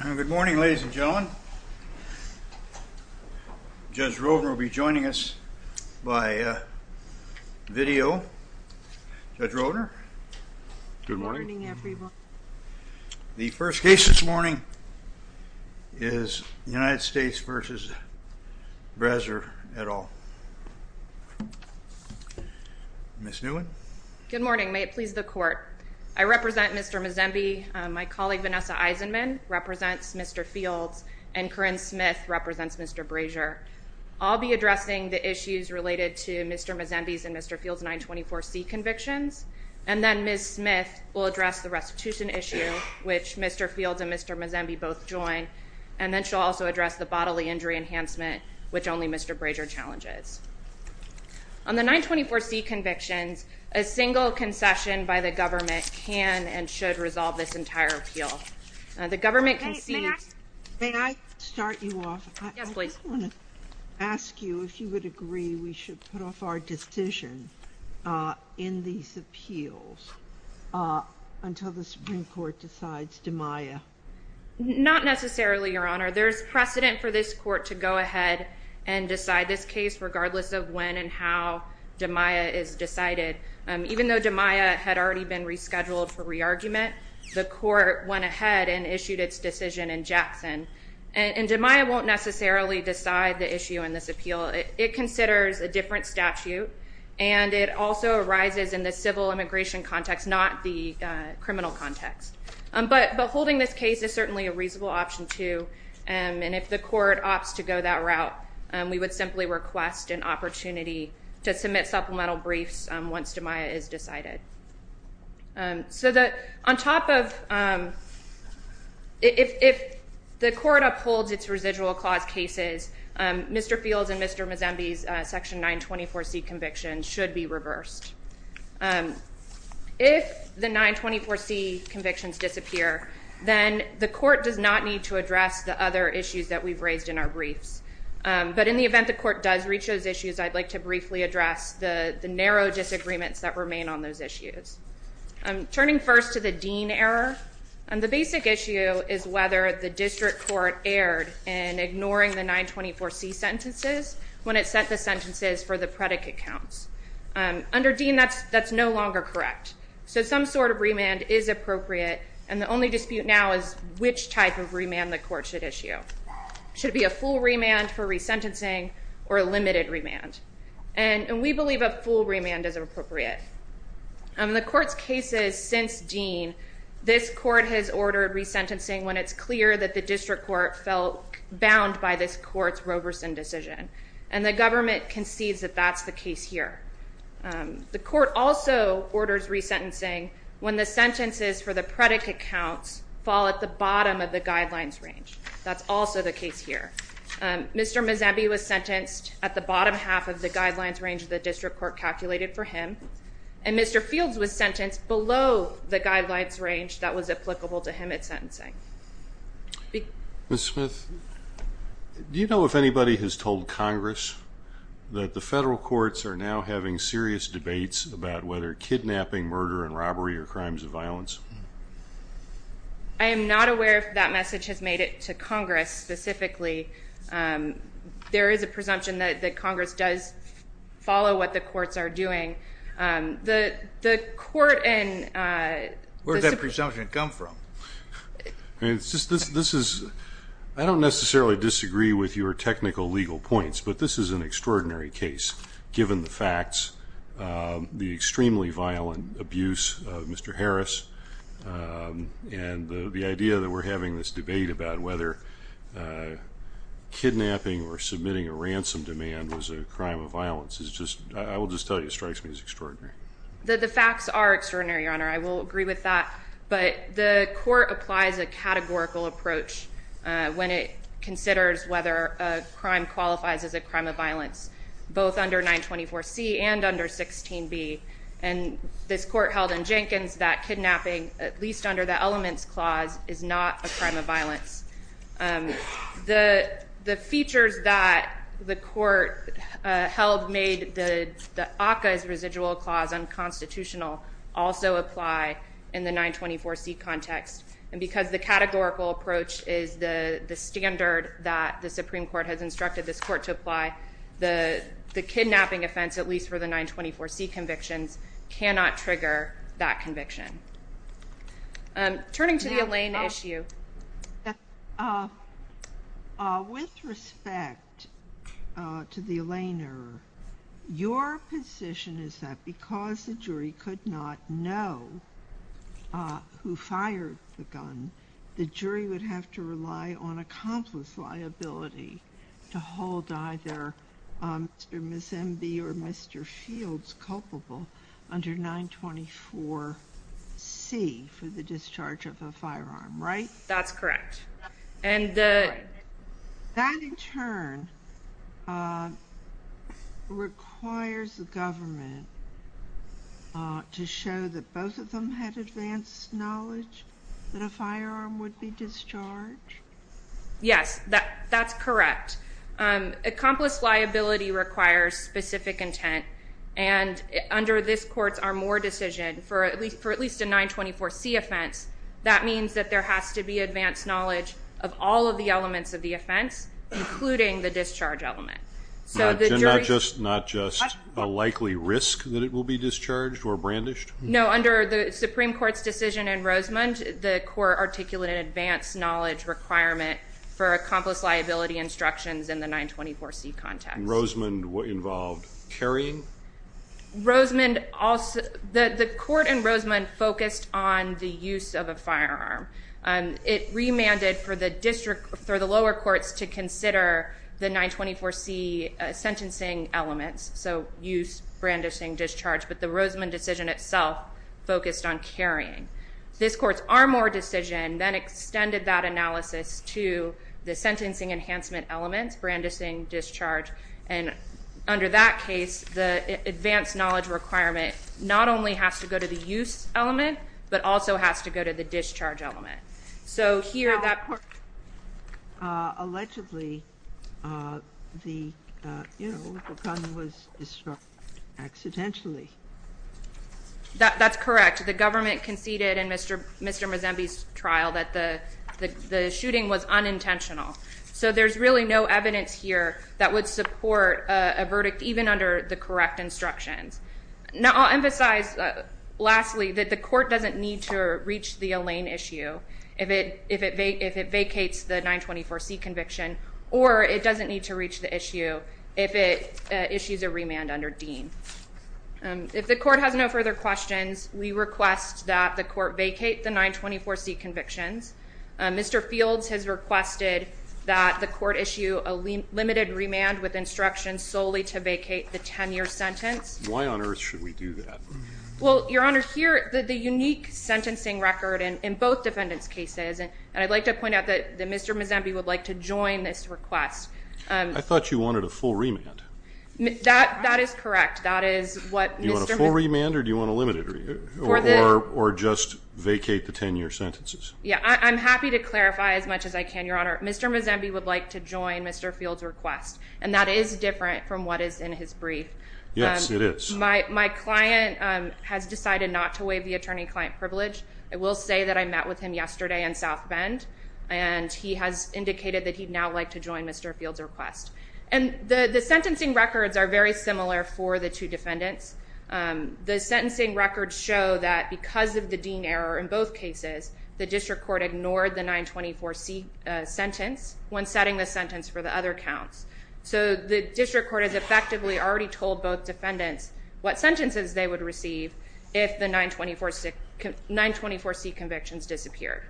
Good morning ladies and gentlemen Judge Rovner will be joining us by video. Judge Rovner. Good morning. The first case this morning is the United States v. Brazier et al. Ms. Newen. Good morning, may it please the court. I represent Mr. Mzenbe, my colleague Vanessa Eisenman, represents Mr. Fields, and Corinne Smith represents Mr. Brazier. I'll be addressing the issues related to Mr. Mzenbe's and Mr. Fields' 924C convictions, and then Ms. Smith will address the restitution issue which Mr. Fields and Mr. Mzenbe both join, and then she'll also address the bodily injury enhancement which only Mr. Brazier challenges. On the 924C convictions, a single concession by the government can and should resolve this entire appeal. The government concedes... May I start you off? Yes please. I want to ask you if you would agree we should put off our decision in these appeals until the Supreme Court decides Damia. Not necessarily, Your Honor. There's precedent for this court to go ahead and decide this case regardless of when and how even though Damia had already been rescheduled for re-argument, the court went ahead and issued its decision in Jackson, and Damia won't necessarily decide the issue in this appeal. It considers a different statute, and it also arises in the civil immigration context, not the criminal context. But holding this case is certainly a reasonable option, too, and if the court opts to go that route, we would simply request an opportunity to submit supplemental briefs once Damia is decided. So that on top of... If the court upholds its residual clause cases, Mr. Fields and Mr. Mzenbe's section 924C convictions should be reversed. If the 924C convictions disappear, then the court does not need to address the other issues that we've raised in our briefs. But in the event the court does reach those issues, I'd like to briefly address the narrow disagreements that remain on those issues. Turning first to the Dean error, and the basic issue is whether the district court erred in ignoring the 924C sentences when it sent the sentences for the predicate counts. Under Dean, that's no longer correct. So some sort of remand is appropriate, and the only dispute now is which type of remand the court should issue. Should it be a full remand for resentencing or a limited remand? And we believe a full remand is appropriate. In the court's cases since Dean, this court has ordered resentencing when it's clear that the district court felt bound by this court's Roberson decision, and the government concedes that that's the case here. The court also orders resentencing when the sentences for the predicate counts fall at the bottom of the guidelines range. That's also the case here. Mr. Mazzambi was sentenced at the bottom half of the guidelines range the district court calculated for him, and Mr. Fields was sentenced below the guidelines range that was applicable to him at sentencing. Ms. Smith, do you know if anybody has told Congress that the federal courts are now having serious debates about whether kidnapping, murder, and robbery are crimes of violence? I am not aware if that message has made it to Congress specifically. There is a presumption that Congress does follow what the courts are doing. The court and... Where did that presumption come from? It's just this, this is, I don't necessarily disagree with your technical legal points, but this is an extraordinary case given the facts. The extremely violent abuse of Mr. Harris and the idea that we're having this debate about whether kidnapping or submitting a ransom demand was a crime of violence is just, I will just tell you, strikes me as extraordinary. The facts are extraordinary, Your Honor. I will agree with that, but the court applies a categorical approach when it considers whether a crime qualifies as a crime of violence, both under 924 C and under 16 B, and this court held in Jenkins that kidnapping, at least under the Elements Clause, is not a crime of violence. The features that the court held made the ACCA's residual clause unconstitutional also apply in the 924 C context, and because the categorical approach is the standard that the Supreme Court has instructed this court to apply, the 924 C cannot trigger that conviction. Turning to the Elaine issue. With respect to the Elaine error, your position is that because the jury could not know who fired the gun, the jury would have to rely on accomplice liability to hold either Mr. or Ms. M.B. or Mr. Fields culpable under 924 C for the discharge of a firearm, right? That's correct. That in turn requires the government to show that both of them had advanced knowledge that a firearm would be discharged. Yes, that that's correct. Accomplice liability requires specific intent, and under this court's Armour decision, for at least for at least a 924 C offense, that means that there has to be advanced knowledge of all of the elements of the offense, including the discharge element. So the jury... Not just a likely risk that it will be discharged or brandished? No, under the Supreme Court's decision in Rosemond, the court articulated advanced knowledge requirement for accomplice liability instructions in the 924 C context. And Rosemond involved carrying? Rosemond also... The court in Rosemond focused on the use of a firearm, and it remanded for the lower courts to consider the 924 C sentencing elements, so use, brandishing, discharge, but the Rosemond decision itself focused on carrying. This court's Armour decision then extended that analysis to the sentencing enhancement elements, brandishing, discharge, and under that case, the advanced knowledge requirement not only has to go to the use element, but also has to go to the discharge element. So here, that court... Allegedly, the, you know, the gun was destroyed accidentally. That's correct. The government conceded in Mr. Mazembe's trial that the shooting was unintentional. So there's really no evidence here that would support a verdict even under the correct instructions. Now, I'll emphasize lastly, that the court doesn't need to reach the Elaine issue if it vacates the 924 C conviction, or it doesn't need to reach the issue if it issues a remand under Dean. If the court has no further questions, we request that the court vacate the 924 C convictions. Mr. Fields has requested that the court issue a limited remand with instructions solely to vacate the 10-year sentence. Why on earth should we do that? Well, Your Honor, here, the unique sentencing record in both defendants' cases, and I'd like to point out that Mr. Mazembe would like to join this request. I thought you wanted a full remand. That is correct. That is what... Do you want a full remand, or do you want a limited remand, or just vacate the 10-year sentences? Yeah, I'm happy to clarify as much as I can, Your Honor. Mr. Mazembe would like to join Mr. Fields' request, and that is different from what is in his brief. Yes, it is. My client has decided not to waive the attorney-client privilege. I will say that I met with him yesterday in South Bend, and he has indicated that he'd now like to join Mr. Fields' request. And the sentencing records are very similar for the two defendants. The sentencing records show that because of the Dean error in both cases, the district court ignored the 924C sentence when setting the sentence for the other counts. So the district court has effectively already told both defendants what sentences they would receive if the 924C convictions disappeared.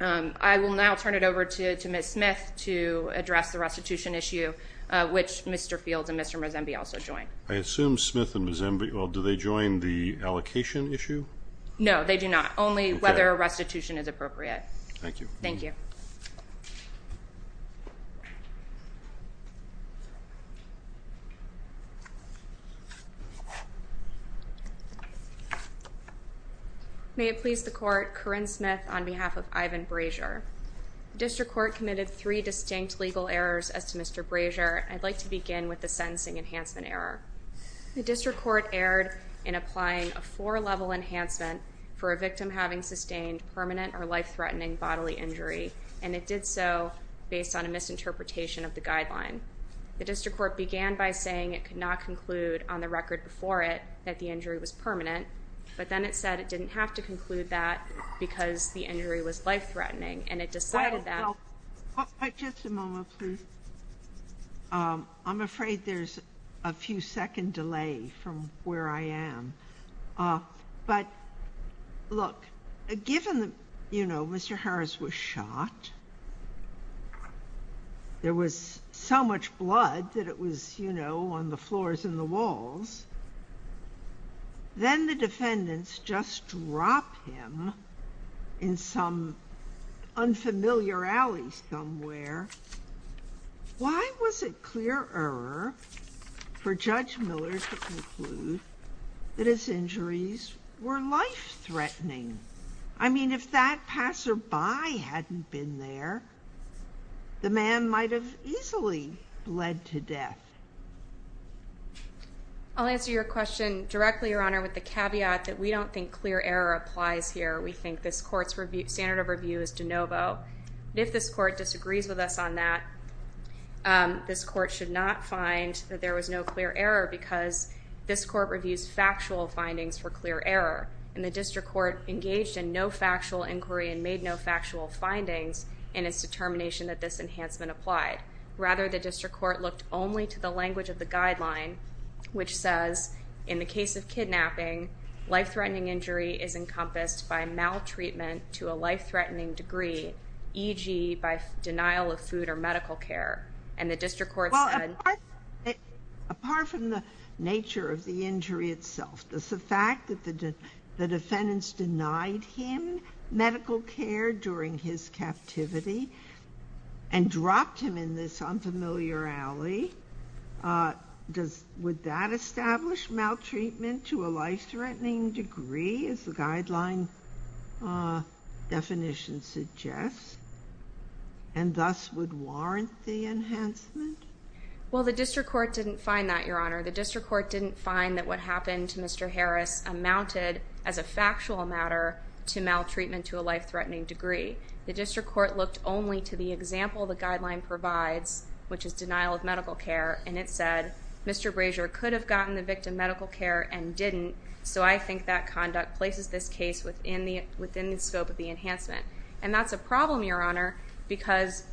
I will now turn it over to Ms. Smith to address the restitution issue, which Mr. Fields and Mr. Mazembe also joined. I assume Smith and Mazembe, well, do they join the allocation issue? No, they do not. Only whether a restitution is appropriate. Thank you. Thank you. Thank you. May it please the court, Corinne Smith on behalf of Ivan Brazier. District Court committed three distinct legal errors as to Mr. Brazier. I'd like to begin with the sentencing enhancement error. The district court erred in applying a four-level enhancement for a victim having sustained permanent or life-threatening bodily injury, and it did so based on a misinterpretation of the guideline. The district court began by saying it could not conclude on the record before it that the injury was permanent, but then it said it didn't have to conclude that because the injury was life-threatening, and it decided that... I'm afraid there's a few second delay from where I am. But, look, given that, you know, Mr. Harris was shot, there was so much blood that it was, you know, on the floors and the walls, then the defendants just drop him in some unfamiliar alley somewhere. Why was it clear error for Judge Miller to conclude that his injuries were life-threatening? I mean, if that passerby hadn't been there, the man might have easily bled to death. I'll answer your question directly, Your Honor, with the caveat that we don't think clear error applies here. We think this court's standard of review is de novo. If this court disagrees with us on that, this court should not find that there was no clear error because this court reviews factual findings for clear error, and the district court engaged in no factual inquiry and made no factual findings in its determination that this enhancement applied. Rather, the district court looked only to the language of the guideline, which says, in the case of kidnapping, life-threatening injury is encompassed by maltreatment to a life-threatening degree, e.g. by denial of food or medical care. And the district court said... Well, apart from the nature of the injury itself, the fact that the defendants denied him medical care during his captivity and dropped him in this unfamiliar alley, would that establish maltreatment to a life-threatening degree, as the guideline definition suggests, and thus would warrant the enhancement? Well, the district court didn't find that, Your Honor. The district court didn't find that what happened to Mr. Harris amounted, as a factual matter, to maltreatment to a life-threatening degree. The district court looked only to the example the guideline provides, which is denial of medical care, and it said, Mr. Brazier could have gotten the victim medical care and didn't, so I think that conduct places this case within the scope of the enhancement. And that's a problem, Your Honor, because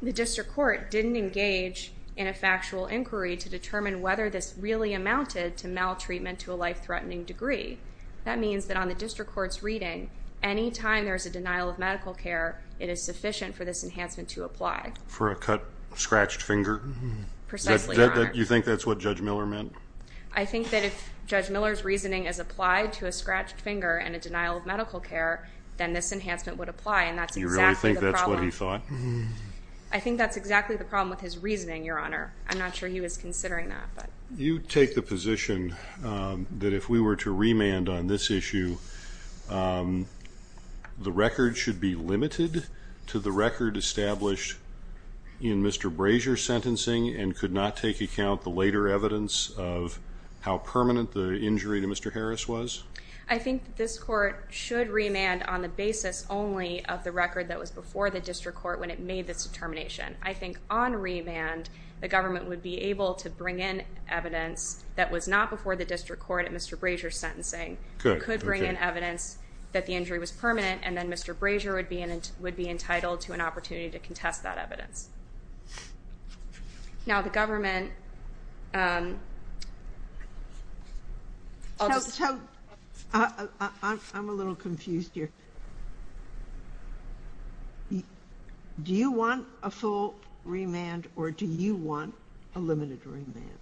the district court didn't engage in a factual inquiry to determine whether this really amounted to maltreatment to a life-threatening degree. That means that on the district court's reading, any time there's a denial of medical care, it is sufficient for this enhancement to apply. For a cut, scratched finger? Precisely, Your Honor. You think that's what Judge Miller meant? I think that if Judge Miller's reasoning is applied to a scratched finger and a denial of medical care, then this enhancement would apply, and that's exactly the problem. You really think that's what he thought? I think that's exactly the problem with his reasoning, Your Honor. I'm not sure he was considering that, but... You take the position that if we were to remand on this issue, the record should be limited to the record established in Mr. Brazier's sentencing and could not take account the later evidence of how permanent the injury to Mr. Harris was? I think this court should remand on the basis only of the record that was before the district court when it made this determination. I think on remand, the government would be able to bring in evidence that was not before the district court at Mr. Brazier's sentencing, could bring in evidence that the injury was permanent, and then Mr. Brazier would be entitled to an opportunity to contest that evidence. Now the government... I'm a little confused here. Do you want a full remand, or do you want a limited remand?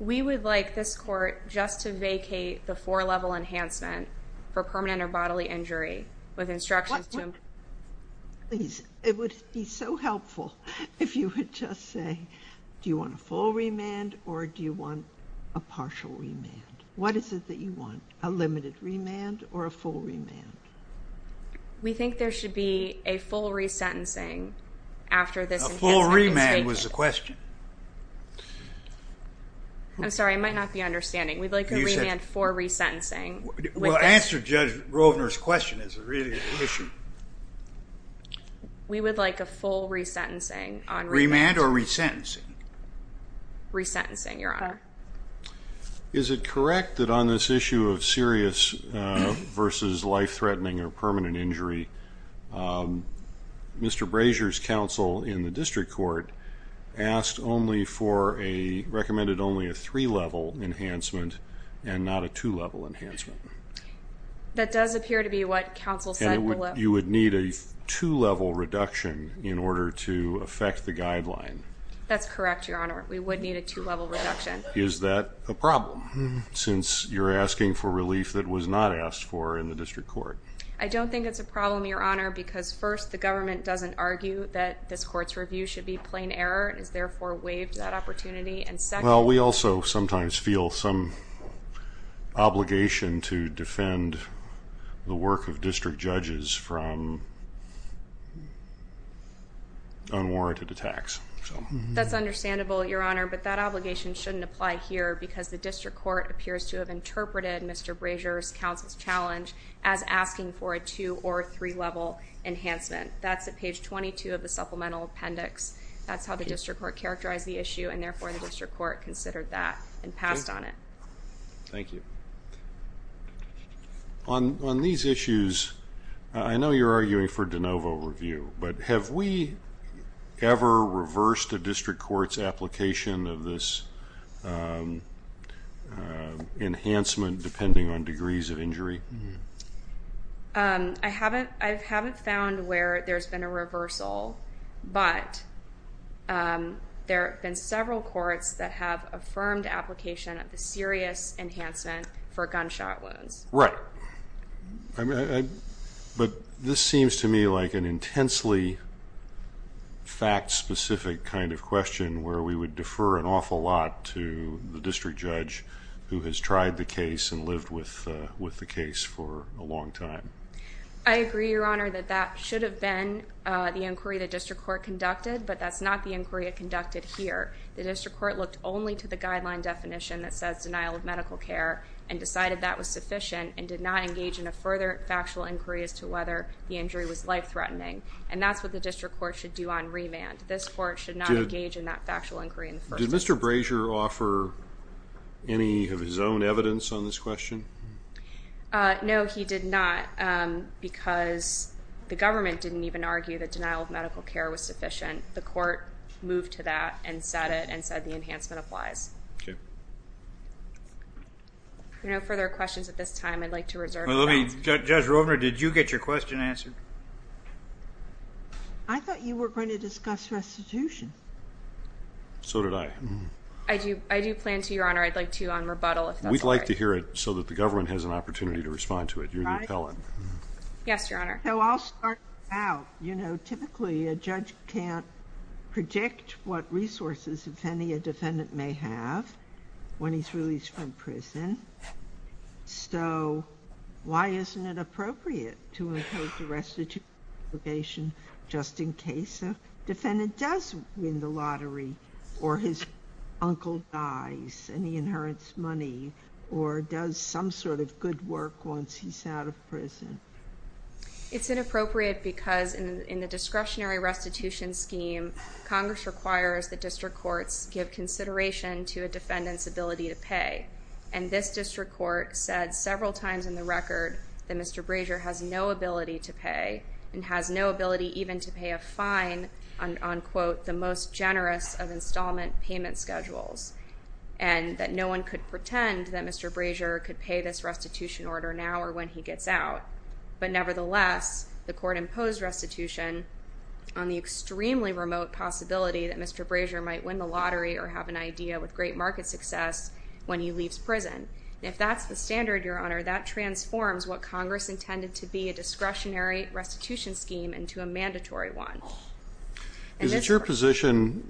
We would like this court just to vacate the four-level enhancement for permanent or bodily injury with instructions to... It would be so helpful if you could just say, do you want a full remand, or do you want a partial remand? What is it that you want, a limited remand or a full remand? We think there should be a full re-sentencing after this enhancement is vacated. A full remand was the question. I'm sorry, I might not be understanding. We'd like a remand for re-sentencing. Well, answer Judge Rovner's question is really an issue. We would like a full re-sentencing on remand. Remand or re-sentencing? Re-sentencing, Your Honor. Is it correct that on this issue of serious versus life-threatening or permanent injury, Mr. Brazier's counsel in the district court asked only for a... recommended only a three-level enhancement and not a two-level enhancement. That does appear to be what counsel said. You would need a two-level reduction in order to affect the guideline. That's correct, Your Honor. We would need a two-level reduction. Is that a problem since you're asking for relief that was not asked for in the district court? I don't think it's a problem, Your Honor, because first, the government doesn't argue that this court's review should be plain error. It has therefore waived that opportunity and second... Well, we also sometimes feel some obligation to defend the work of district judges from unwarranted attacks. That's understandable, Your Honor, but that obligation shouldn't apply here because the district court appears to have interpreted Mr. Brazier's counsel's challenge as asking for a two- or three-level enhancement. That's at page 22 of the supplemental appendix. That's how the district court characterized the issue and therefore the district court considered that and passed on it. Thank you. On these issues, I know you're arguing for de novo review, but have we ever reversed a district court's application of this enhancement depending on degrees of injury? I haven't found where there's been a reversal, but there have been several courts that have affirmed application of the serious enhancement for gunshot wounds. Right. But this seems to me like an intensely fact-specific kind of question where we would defer an awful lot to the district judge who has tried the case and lived with the case for a long time. I agree, Your Honor, that that should have been the inquiry the district court conducted, but that's not the inquiry it conducted here. The district court looked only to the guideline definition that says denial of medical care and decided that was sufficient and did not engage in a further factual inquiry as to whether the injury was life-threatening, and that's what the district court should do on remand. This court should not engage in that factual inquiry in the first instance. Did Mr. Brazier offer any of his own evidence on this question? No, he did not because the government didn't even argue that denial of medical care was sufficient. The court moved to that and said it and said the enhancement applies. If there are no further questions at this time, I'd like to reserve the right to... Judge Rovner, did you get your question answered? I thought you were going to discuss restitution. So did I. I do plan to, Your Honor. I'd like to on rebuttal. We'd like to hear it so that the government has an opportunity to respond to it. You're the appellant. Yes, Your Honor. So I'll start out. You know, typically a judge can't predict what resources, if any, a defendant may have when he's released from prison. So why isn't it appropriate to impose the restitution obligation just in case a defendant does win the lottery or his uncle dies and he inherits money or does some sort of good work once he's out of prison? It's inappropriate because in the discretionary restitution scheme, Congress requires that district courts give consideration to a defendant's ability to pay, and this district court said several times in the record that Mr. Brazier has no ability to pay and has no ability even to pay a fine on quote, the most generous of installment payment schedules, and that no one could pretend that Mr. Brazier could pay this restitution order now or when he gets out. But nevertheless, the court imposed restitution on the extremely remote possibility that Mr. Brazier might win the lottery or have an idea with great market success when he leaves prison. If that's the standard, Your Honor, that transforms what Congress intended to be a discretionary restitution scheme into a mandatory one. Is it your position,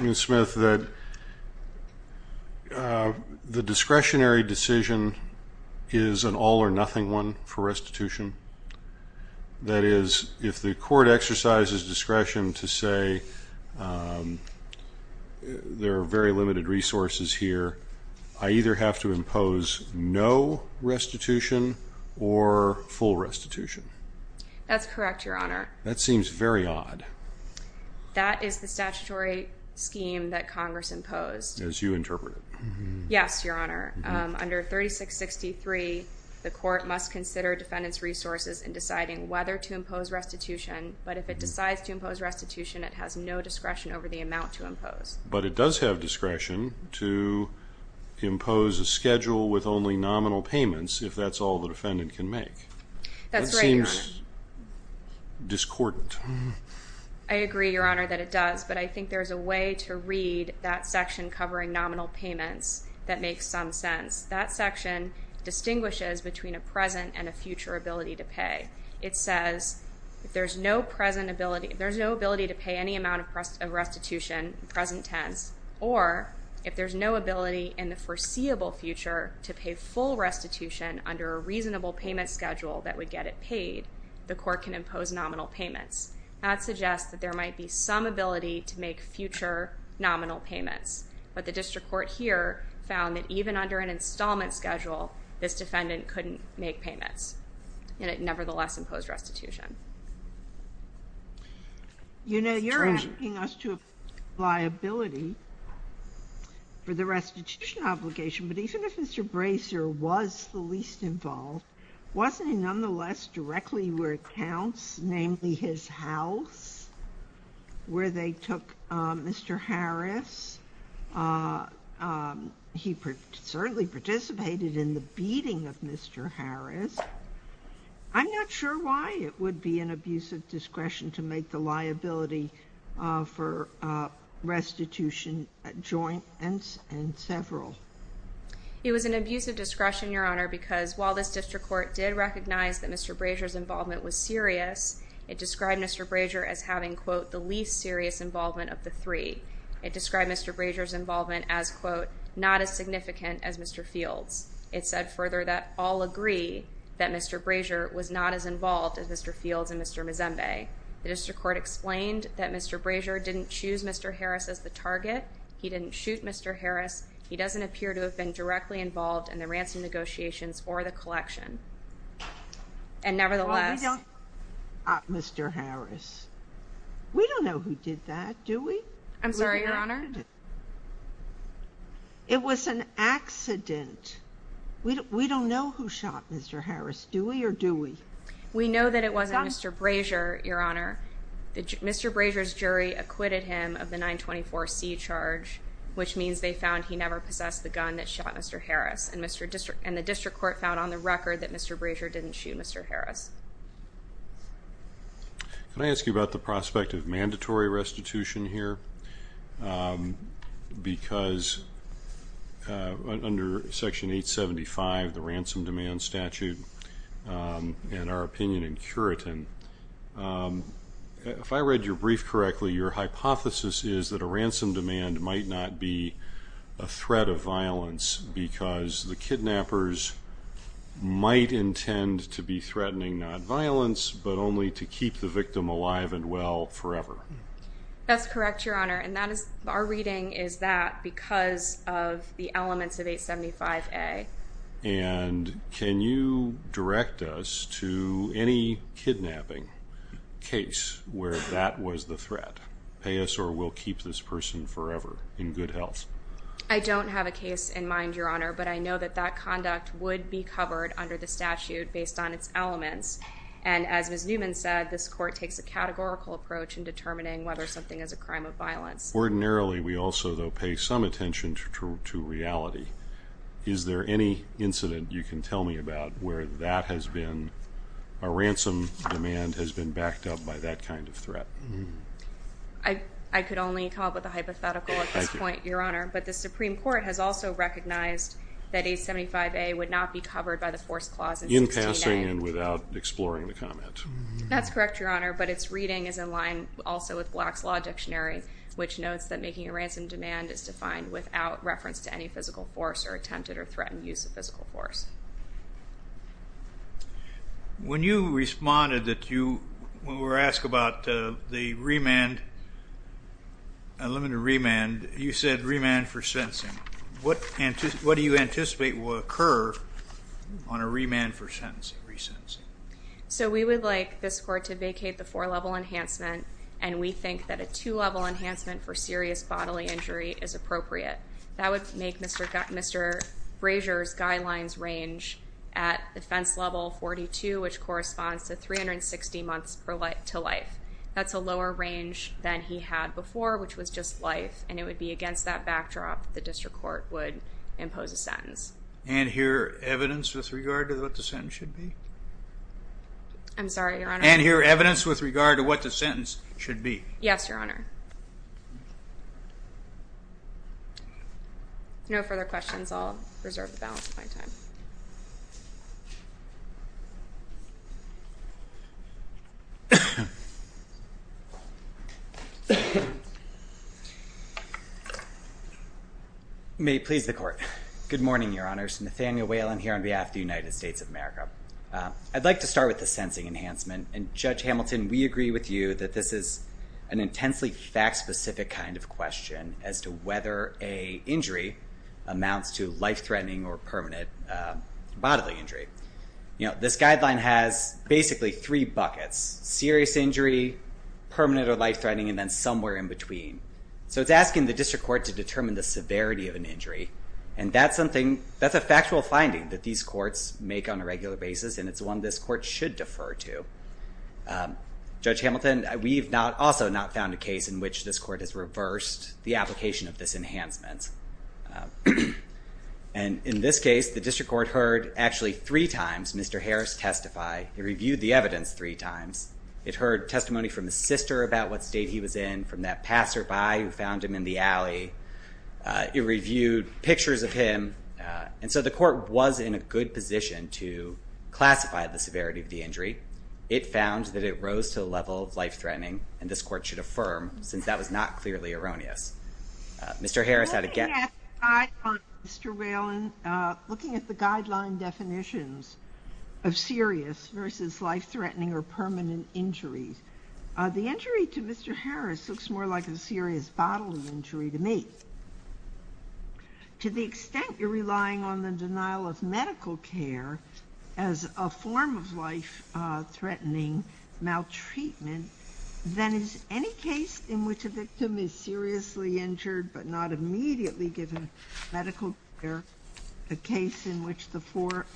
Ms. Smith, that the discretionary decision is an all-or-nothing one for restitution? That is, if the court exercises discretion to say there are very limited resources here, I either have to impose no restitution or full restitution. That's correct, Your Honor. That seems very odd. That is the statutory scheme that Congress imposed. As you interpret it. Yes, Your Honor. Under 3663, the court must consider defendants resources in deciding whether to impose restitution, but if it decides to impose restitution, it has no discretion over the amount to impose. But it does have discretion to impose a schedule with only nominal payments if that's all the defendant can make. That's right, Your Honor. That seems discordant. I agree, Your Honor, that it does. But I think there's a way to read that section covering nominal payments that makes some sense. That section distinguishes between a present and a future ability to pay. It says if there's no present ability, if there's no ability to pay any amount of restitution, present tense, or if there's no ability in the foreseeable future to pay full restitution under a reasonable payment schedule that would get it paid, the court can impose nominal payments. That suggests that there might be some ability to make future nominal payments. But the district court here found that even under an installment schedule, this defendant couldn't make payments, and it nevertheless imposed restitution. You know, you're asking us to apply liability for the restitution obligation, but even if Mr. Bracer was the least involved, wasn't he nonetheless directly where it counts, namely his house, where they took Mr. Harris? He certainly participated in the beating of Mr. Harris. I'm not sure why it would be an abusive discretion to make the liability for restitution adjoints and several. It was an abusive discretion, Your Honor, because while this district court did recognize that Mr. Bracer's involvement was serious, it described Mr. Bracer as having, quote, the least serious involvement of the three. It described Mr. Bracer's involvement as, quote, not as significant as Mr. Fields. It said further that all agree that Mr. Bracer was not as involved as Mr. Fields and Mr. Mzembe. The district court explained that Mr. Bracer didn't choose Mr. Harris as the target. He didn't shoot Mr. Harris. He doesn't appear to have been directly involved in the ransom negotiations or the collection. And nevertheless, Mr. Harris, we don't know who did that, do we? I'm sorry, Your Honor. It was an accident. We don't know who shot Mr. Harris, do we or do we? We know that it wasn't Mr. Bracer, Your Honor. Mr. Bracer's jury acquitted him of the 924 C charge, which means they found he never possessed the gun that shot Mr. Harris. And the district court found on the record that Mr. Bracer didn't shoot Mr. Harris. Can I ask you about the prospect of mandatory restitution here? Because under Section 875, the Ransom Demand Statute and our opinion in Curitin, if I read your brief correctly, your hypothesis is that a ransom demand might not be a threat of violence because the kidnappers might intend to be threatening non-violence, but only to keep the victim alive and well forever. That's correct, Your Honor. And that is, our reading is that because of the elements of 875A. And can you direct us to any kidnapping case where that was the threat? Pay us or we'll keep this person forever in good health. I don't have a case in mind, Your Honor, but I know that that conduct would be covered under the statute based on its elements. And as Ms. Newman said, this court takes a categorical approach in determining whether something is a crime of violence. Ordinarily, we also though pay some attention to reality. Is there any incident you can tell me about where that has been a ransom demand has been backed up by that kind of threat? I could only come up with a hypothetical at this point, Your Honor. But the Supreme Court has also recognized that 875A would not be covered by the Force Clause in 16A. In passing and without exploring the comment. That's correct, Your Honor. But its reading is in line also with Black's Law Dictionary, which notes that making a ransom demand is defined without reference to any physical force or attempted or threatened use of physical force. When you responded that you were asked about the remand, the limited remand, you said remand for sentencing. What do you anticipate will occur on a remand for sentencing? So we would like this court to vacate the four level enhancement, and we think that a two level enhancement for serious bodily injury is appropriate. That would make Mr. Brazier's guidelines range at defense level 42, which corresponds to 360 months to life. That's a lower range than he had before, which was just life. And it would be against that backdrop the district court would impose a sentence. And here evidence with regard to what the sentence should be? I'm sorry, Your Honor. And here evidence with regard to what the sentence should be. Yes, Your Honor. No further questions. I'll reserve the balance of my time. May it please the court. Good morning, Your Honors. Nathaniel Whalen here on behalf of the United States of America. I'd like to start with the sensing enhancement. And Judge Hamilton, we agree with you that this is an intensely fact specific kind of question as to whether a injury amounts to life threatening or permanent bodily injury. You know, this guideline has basically three buckets, serious injury, permanent or life threatening, and then somewhere in between. So it's asking the district court to determine the severity of an injury. And that's something, that's a factual finding that these courts make on a regular basis. And it's one this court should defer to. Judge Hamilton, we've also not found a case in which this court has reversed the application of this enhancement. And in this case, the district court heard actually three times Mr. Harris testify. It reviewed the evidence three times. It heard testimony from the sister about what state he was in, from that passerby who found him in the alley. It reviewed pictures of him. And so the court was in a good position to classify the severity of the injury. It found that it rose to the level of life threatening. And this court should affirm, since that was not clearly erroneous. Mr. Harris had a guess. Looking at the guideline, Mr. Whelan, looking at the guideline definitions of serious versus life threatening or permanent injury, the injury to Mr. Harris looks more like a serious bodily injury to me. To the extent you're relying on the denial of medical care as a form of life threatening maltreatment, then is any case in which a victim is seriously injured but not immediately given medical care a case in which the four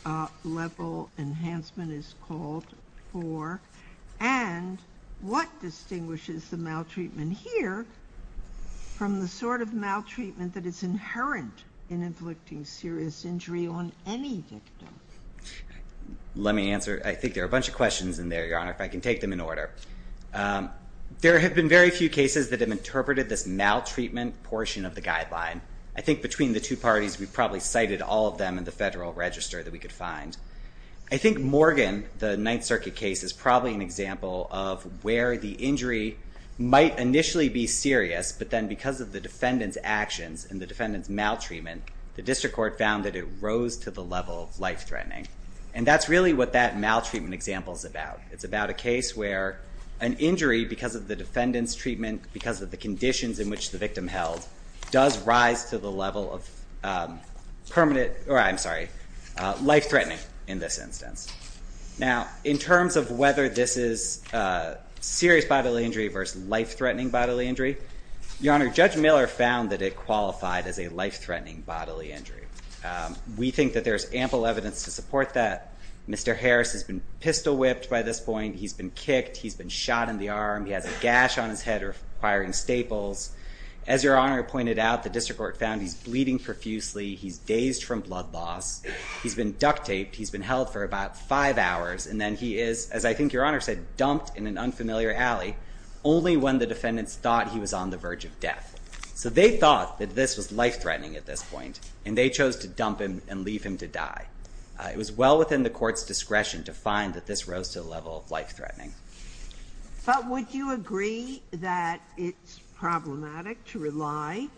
level enhancement is called for? And what distinguishes the maltreatment here from the sort of maltreatment that is inherent in inflicting serious injury on any victim? Let me answer. I think there are a bunch of questions in there, Your Honor, if I can take them in order. There have been very few cases that have interpreted this maltreatment portion of the guideline. I think between the two parties, we've probably cited all of them in the federal register that we could find. I think Morgan, the Ninth Circuit case, is probably an example of where the injury might initially be serious, but then because of the defendant's actions and the defendant's maltreatment, the district court found that it rose to the level of life threatening. And that's really what that maltreatment example is about. It's about a case where an injury because of the defendant's treatment, because of the conditions in which the victim held, does rise to the level of life threatening. In this instance. Now, in terms of whether this is a serious bodily injury versus life threatening bodily injury, Your Honor, Judge Miller found that it qualified as a life threatening bodily injury. We think that there's ample evidence to support that. Mr. Harris has been pistol whipped by this point. He's been kicked. He's been shot in the arm. He has a gash on his head requiring staples. As Your Honor pointed out, the district court found he's bleeding profusely. He's dazed from blood loss. He's been duct taped. He's been held for about five hours. And then he is, as I think Your Honor said, dumped in an unfamiliar alley only when the defendants thought he was on the verge of death. So they thought that this was life threatening at this point and they chose to dump him and leave him to die. It was well within the court's discretion to find that this rose to the level of life threatening. But would you agree that it's problematic to rely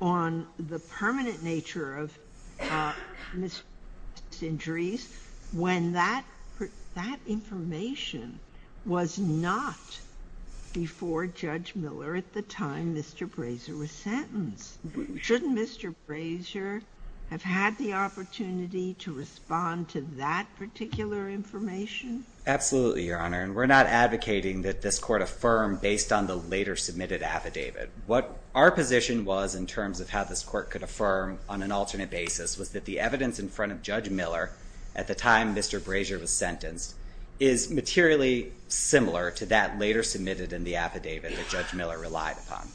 on the permanent nature of Mr. Harris' injuries when that information was not before Judge Miller at the time Mr. Brazier was sentenced? Shouldn't Mr. Brazier have had the opportunity to respond to that particular information? Absolutely, Your Honor. And we're not advocating that this court affirm based on the later submitted affidavit. What our position was in terms of how this court could affirm on an alternate basis was that the evidence in front of Judge Miller at the time Mr. Brazier was sentenced is materially similar to that later submitted in the affidavit that Judge Miller relied upon.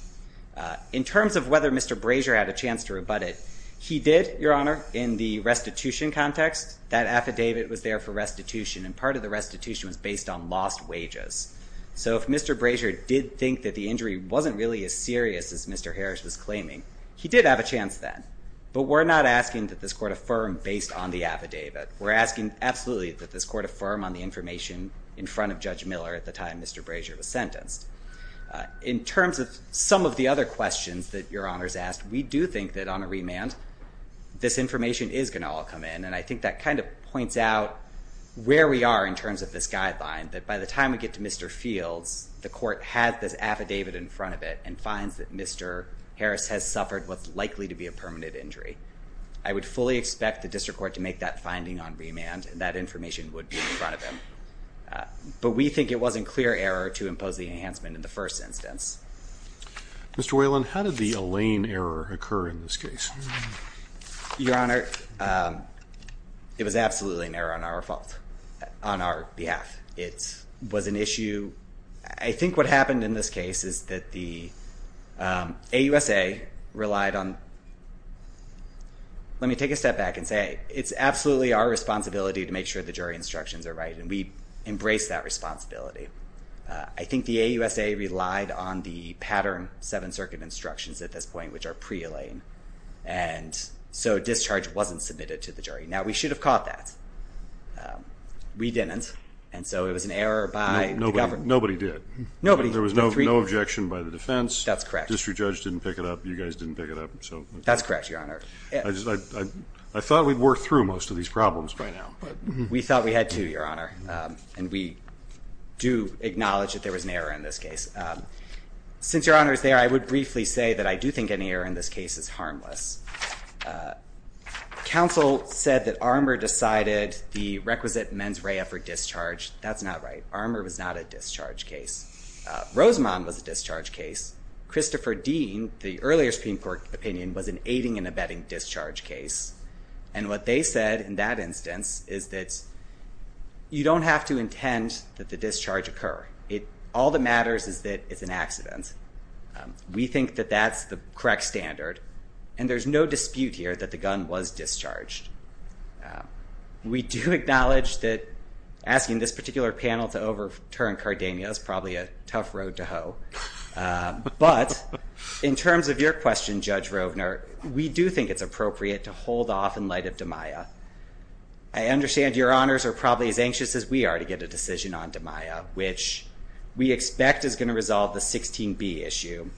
In terms of whether Mr. Brazier had a chance to rebut it, he did, Your Honor, in the restitution context, that affidavit was there for restitution and part of the restitution was based on lost wages. So if Mr. Brazier did think that the injury wasn't really as serious as Mr. Harris was claiming, he did have a chance then. But we're not asking that this court affirm based on the affidavit. We're asking absolutely that this court affirm on the information in front of Judge Miller at the time Mr. Brazier was sentenced. In terms of some of the other questions that Your Honor's asked, we do think that on a remand, this information is going to all come in. And I think that kind of points out where we are in terms of this guideline, that by the time we get to Mr. Fields, the court has this affidavit in front of it and finds that Mr. Fields had a permanent injury. I would fully expect the district court to make that finding on remand and that information would be in front of him. But we think it wasn't clear error to impose the enhancement in the first instance. Mr. Whalen, how did the Elaine error occur in this case? Your Honor, it was absolutely an error on our fault, on our behalf. It was an issue. I think what happened in this case is that the AUSA relied on, let me take a step back and say, it's absolutely our responsibility to make sure the jury instructions are right and we embrace that responsibility. I think the AUSA relied on the pattern seven circuit instructions at this point, which are pre-Elaine, and so discharge wasn't submitted to the jury. Now, we should have caught that. We didn't. And so it was an error by the government. Nobody did. Nobody. There was no objection by the defense. That's correct. District judge didn't pick it up. You guys didn't pick it up. So that's correct. Your Honor, I thought we'd worked through most of these problems by now, but we thought we had to, Your Honor. And we do acknowledge that there was an error in this case. Since Your Honor is there, I would briefly say that I do think any error in this case is harmless. Counsel said that Armour decided the requisite mens rea for discharge. That's not right. Armour was not a discharge case. Rosemond was a discharge case. Christopher Dean, the earlier Supreme Court opinion, was an aiding and abetting discharge case. And what they said in that instance is that you don't have to intend that the discharge occur. It, all that matters is that it's an accident. We think that that's the correct standard. And there's no dispute here that the gun was discharged. We do acknowledge that asking this particular panel to overturn Cardenia is probably a tough road to hoe. But in terms of your question, Judge Rovner, we do think it's appropriate to hold off in light of DiMaia. I understand Your Honors are probably as anxious as we are to get a decision on DiMaia, which we expect is going to resolve the 16B issue.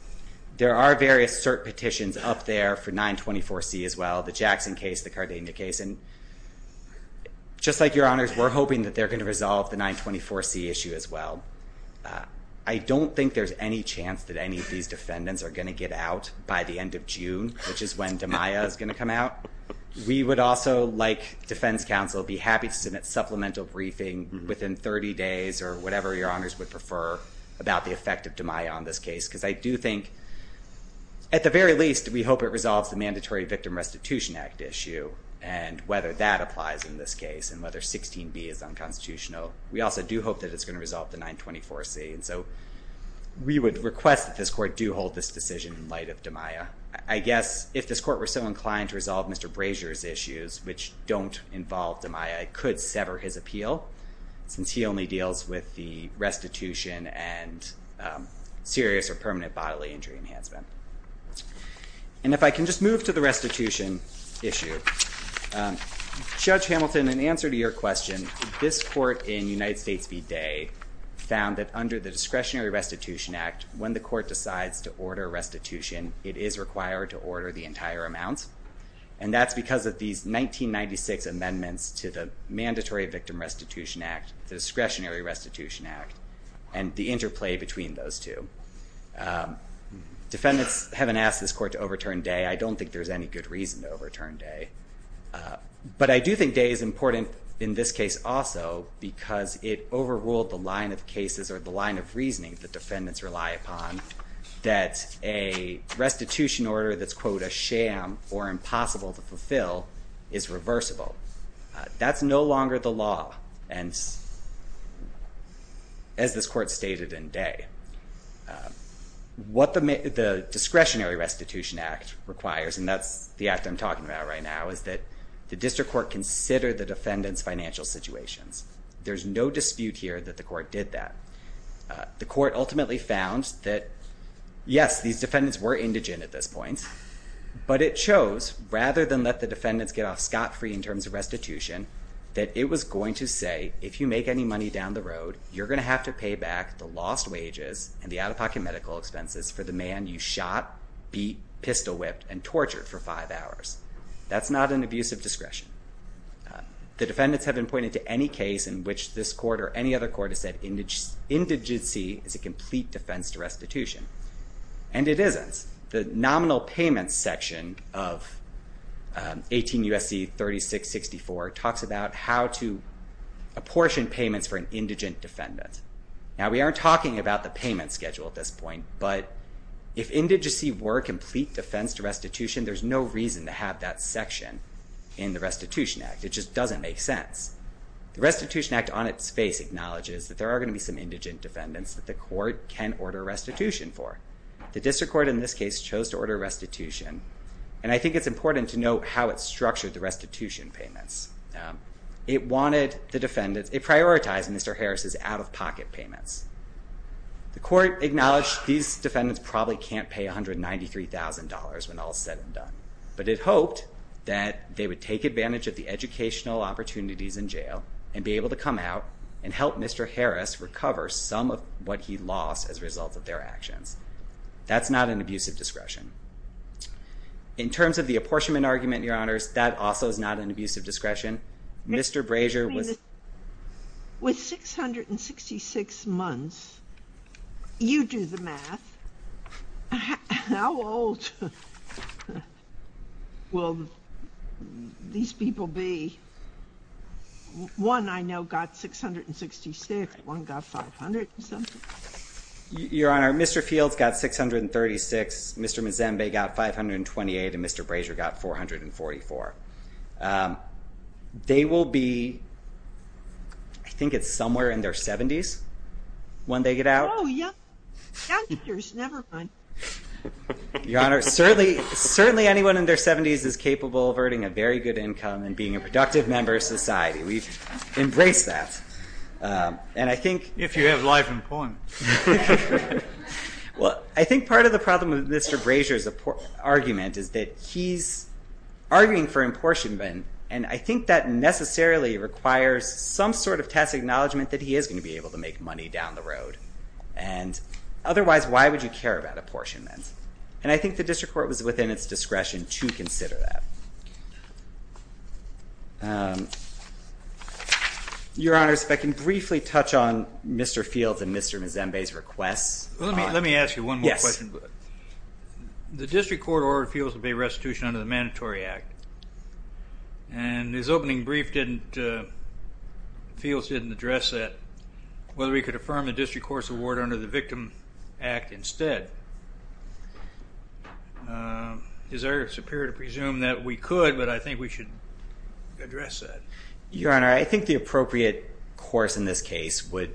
There are various cert petitions up there for 924C as well, the Jackson case, the Cardenia case. And just like Your Honors, we're hoping that they're going to resolve the 924C issue as well. I don't think there's any chance that any of these defendants are going to get out by the end of June, which is when DiMaia is going to come out. We would also, like Defense Counsel, be happy to submit supplemental briefing within 30 days or whatever Your Honors would prefer about the effect of DiMaia on this case. Because I do think, at the very least, we hope it resolves the Mandatory Victim Restitution Act issue and whether that applies in this case and whether 16B is unconstitutional. We also do hope that it's going to resolve the 924C. And so we would request that this court do hold this decision in light of DiMaia. I guess if this court were so inclined to resolve Mr. Brazier's issues, which don't involve DiMaia, it could sever his appeal since he only deals with the restitution and serious or permanent bodily injury enhancement. And if I can just move to the restitution issue, Judge Hamilton, in answer to your question, this court in United States v. Day found that under the Discretionary Restitution Act, when the court decides to order restitution, it is required to order the entire amount. And that's because of these 1996 amendments to the Mandatory Victim Restitution Act, the Discretionary Restitution Act. And the interplay between those two. Defendants haven't asked this court to overturn Day. I don't think there's any good reason to overturn Day. But I do think Day is important in this case also because it overruled the line of cases or the line of reasoning that defendants rely upon that a restitution order that's, quote, a sham or impossible to fulfill is reversible. That's no longer the law. And as this court stated in Day, what the Discretionary Restitution Act requires, and that's the act I'm talking about right now, is that the district court considered the defendant's financial situations. There's no dispute here that the court did that. The court ultimately found that, yes, these defendants were indigent at this point, but it chose, rather than let the defendants get off scot-free in terms of restitution, that it was going to say, if you make any money down the road, you're going to have to pay back the lost wages and the out-of-pocket medical expenses for the man you shot, beat, pistol whipped, and tortured for five hours. That's not an abuse of discretion. The defendants have been pointed to any case in which this court or any other court has said indigency is a complete defense to restitution. And it isn't. The nominal payment section of 18 U.S.C. 3664 talks about how to apportion payments for an indigent defendant. Now, we aren't talking about the payment schedule at this point, but if indigency were a complete defense to restitution, there's no reason to have that section in the Restitution Act. It just doesn't make sense. The Restitution Act on its face acknowledges that there are going to be some indigent defendants that the court can order restitution for. The district court in this case chose to order restitution. And I think it's important to note how it structured the restitution payments. It prioritized Mr. Harris's out-of-pocket payments. The court acknowledged these defendants probably can't pay $193,000 when all's said and done, but it hoped that they would take advantage of the educational opportunities in jail and be able to come out and help Mr. Harris recover some of what he lost as a result of their actions. That's not an abusive discretion. In terms of the apportionment argument, your honors, that also is not an abusive discretion. Mr. Brazier was- I mean, with 666 months, you do the math. How old will these people be? One I know got 666, one got 500 and something. Your honor, Mr. Fields got 636, Mr. Mzenbe got 528, and Mr. Brazier got 444. They will be, I think it's somewhere in their 70s when they get out. Oh, yeah. Youngsters, never mind. Your honor, certainly anyone in their 70s is capable of earning a very good income and being a productive member of society. We've embraced that, and I think- If you have life and point. Well, I think part of the problem with Mr. Brazier's argument is that he's arguing for apportionment, and I think that necessarily requires some sort of tacit acknowledgement that he is going to be able to make money down the road. And otherwise, why would you care about apportionment? And I think the district court was within its discretion to consider that. Your honor, if I can briefly touch on Mr. Fields and Mr. Mzenbe's requests. Let me ask you one more question. The district court ordered Fields to pay restitution under the Mandatory Act, and his opening brief didn't, Fields didn't address that, whether we could affirm the district court's award under the Victim Act instead. Is there a superior to presume that we could, but I think we should address that. Your honor, I think the appropriate course in this case would,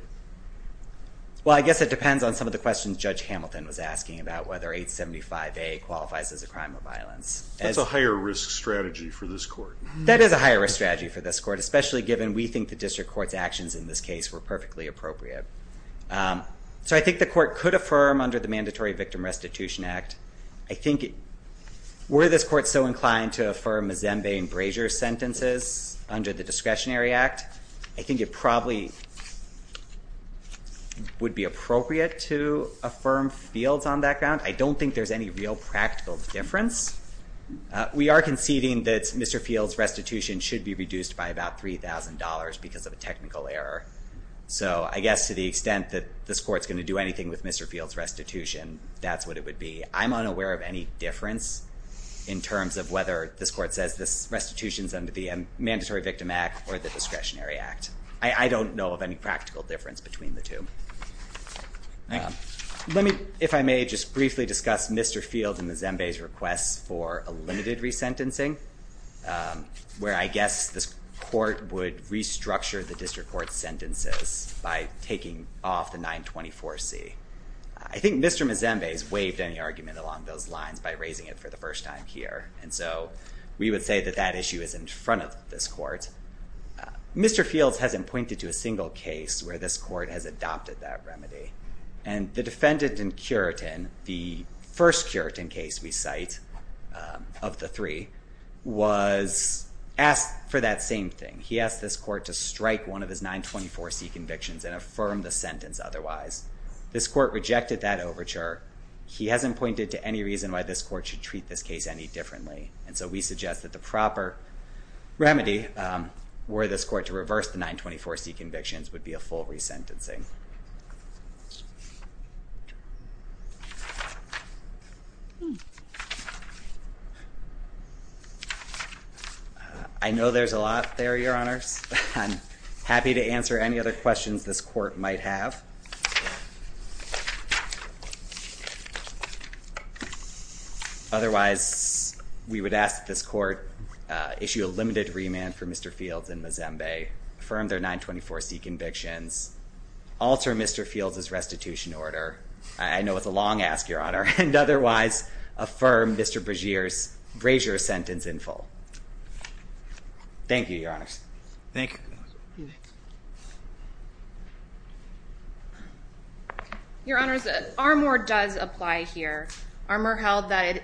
well, I guess it depends on some of the questions Judge Hamilton was asking about whether 875A qualifies as a crime of violence. That's a higher risk strategy for this court. That is a higher risk strategy for this court, especially given we think the district court's actions in this case were perfectly appropriate. So I think the court could affirm under the Mandatory Victim Restitution Act. I think, were this court so inclined to affirm Mzenbe and Brazier's sentences under the Discretionary Act, I think it probably would be appropriate to affirm Fields on that ground. I don't think there's any real practical difference. We are conceding that Mr. Fields' restitution should be reduced by about $3,000 because of a technical error. So I guess to the extent that this court's going to do anything with Mr. Fields' restitution, that's what it would be. I'm unaware of any difference in terms of whether this court says this restitution's under the Mandatory Victim Act or the Discretionary Act. I don't know of any practical difference between the two. Let me, if I may, just briefly discuss Mr. Fields and the Zembe's requests for a limited resentencing. Where I guess this court would restructure the district court's sentences by taking off the 924C. I think Mr. Mzembe's waived any argument along those lines by raising it for the first time here. And so we would say that that issue is in front of this court. Mr. Fields hasn't pointed to a single case where this court has adopted that remedy. And the defendant in Curitin, the first Curitin case we cite, of the three, was asked for that same thing. He asked this court to strike one of his 924C convictions and affirm the sentence otherwise. This court rejected that overture. He hasn't pointed to any reason why this court should treat this case any differently. And so we suggest that the proper remedy were this court to reverse the 924C convictions would be a full resentencing. I know there's a lot there, your honors. I'm happy to answer any other questions this court might have. Otherwise, we would ask this court issue a limited remand for Mr. Fields and Mzembe, affirm their 924C convictions, alter Mr. Fields' restitution order. I know it's a long ask, your honor. And otherwise, affirm Mr. Brasier's brazier sentence in full. Thank you, your honors. Thank you. Your honors, Armour does apply here. Armour held that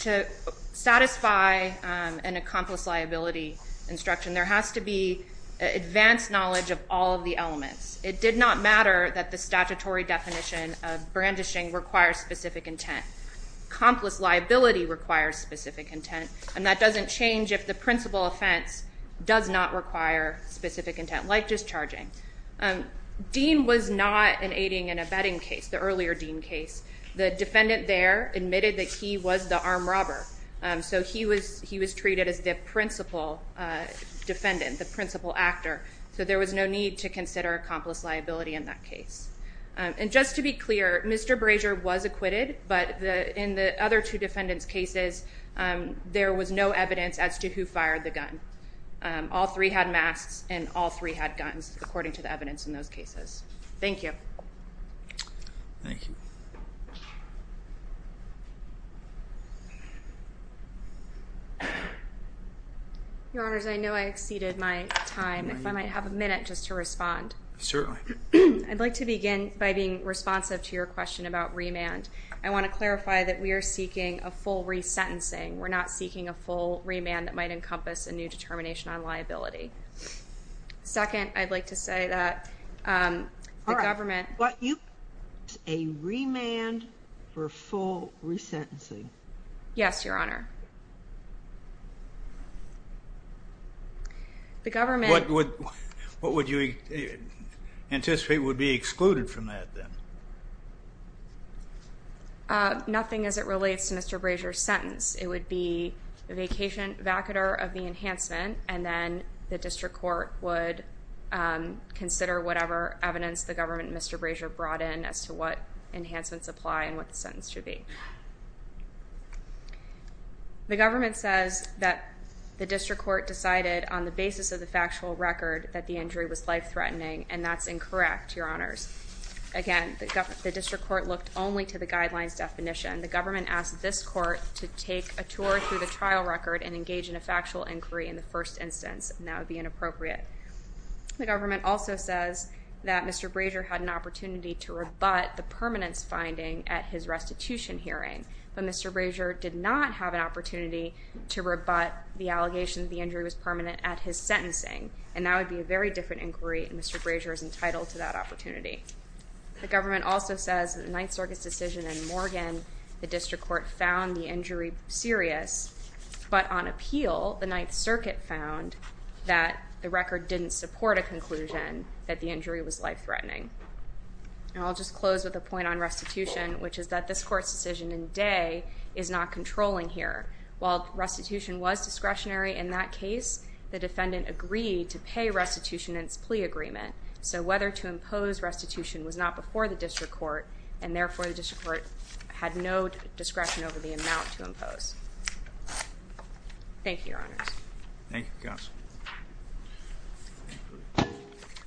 to satisfy an accomplice liability instruction, there has to be advanced knowledge of all of the elements. It did not matter that the statutory definition of brandishing requires specific intent. Accomplice liability requires specific intent. And that doesn't change if the principal offense does not require specific intent, like discharging. Dean was not an aiding and abetting case, the earlier Dean case. The defendant there admitted that he was the armed robber. So he was treated as the principal defendant, the principal actor. So there was no need to consider accomplice liability in that case. And just to be clear, Mr. Brasier was acquitted. But in the other two defendants' cases, there was no evidence as to who fired the gun. All three had masks, and all three had guns, according to the evidence in those cases. Thank you. Thank you. Your honors, I know I exceeded my time. If I might have a minute just to respond. Certainly. I'd like to begin by being responsive to your question about remand. I want to clarify that we are seeking a full resentencing. We're not seeking a full remand that might encompass a new determination on liability. Second, I'd like to say that the government. What you, a remand for full resentencing. Yes, your honor. The government. What would you anticipate would be excluded from that, then? Nothing as it relates to Mr. Brasier's sentence. It would be the vacatur of the enhancement, and then the district court would consider whatever evidence the government and Mr. Brasier brought in as to what enhancements apply and what the sentence should be. The government says that the district court decided on the basis of the factual record that the injury was life-threatening, and that's incorrect, your honors. Again, the district court looked only to the guidelines definition. The government asked this court to take a tour through the trial record and engage in a factual inquiry in the first instance, and that would be inappropriate. The government also says that Mr. Brasier had an opportunity to rebut the permanence finding at his restitution hearing, but Mr. Brasier did not have an opportunity to rebut the allegation that the injury was permanent at his sentencing, and that would be a very different inquiry, and Mr. Brasier is entitled to that opportunity. The government also says that the Ninth Circuit's decision in Morgan, the district court found the injury serious, but on appeal, the Ninth Circuit found that the record didn't support a conclusion that the injury was life-threatening. And I'll just close with a point on restitution, which is that this court's decision in Day is not controlling here, while restitution was discretionary in that case, the defendant agreed to pay restitution in its plea agreement, so whether to impose restitution was not before the district court, and therefore the district court had no discretion over the amount to impose. Thank you, Your Honors. Thank you, Counsel.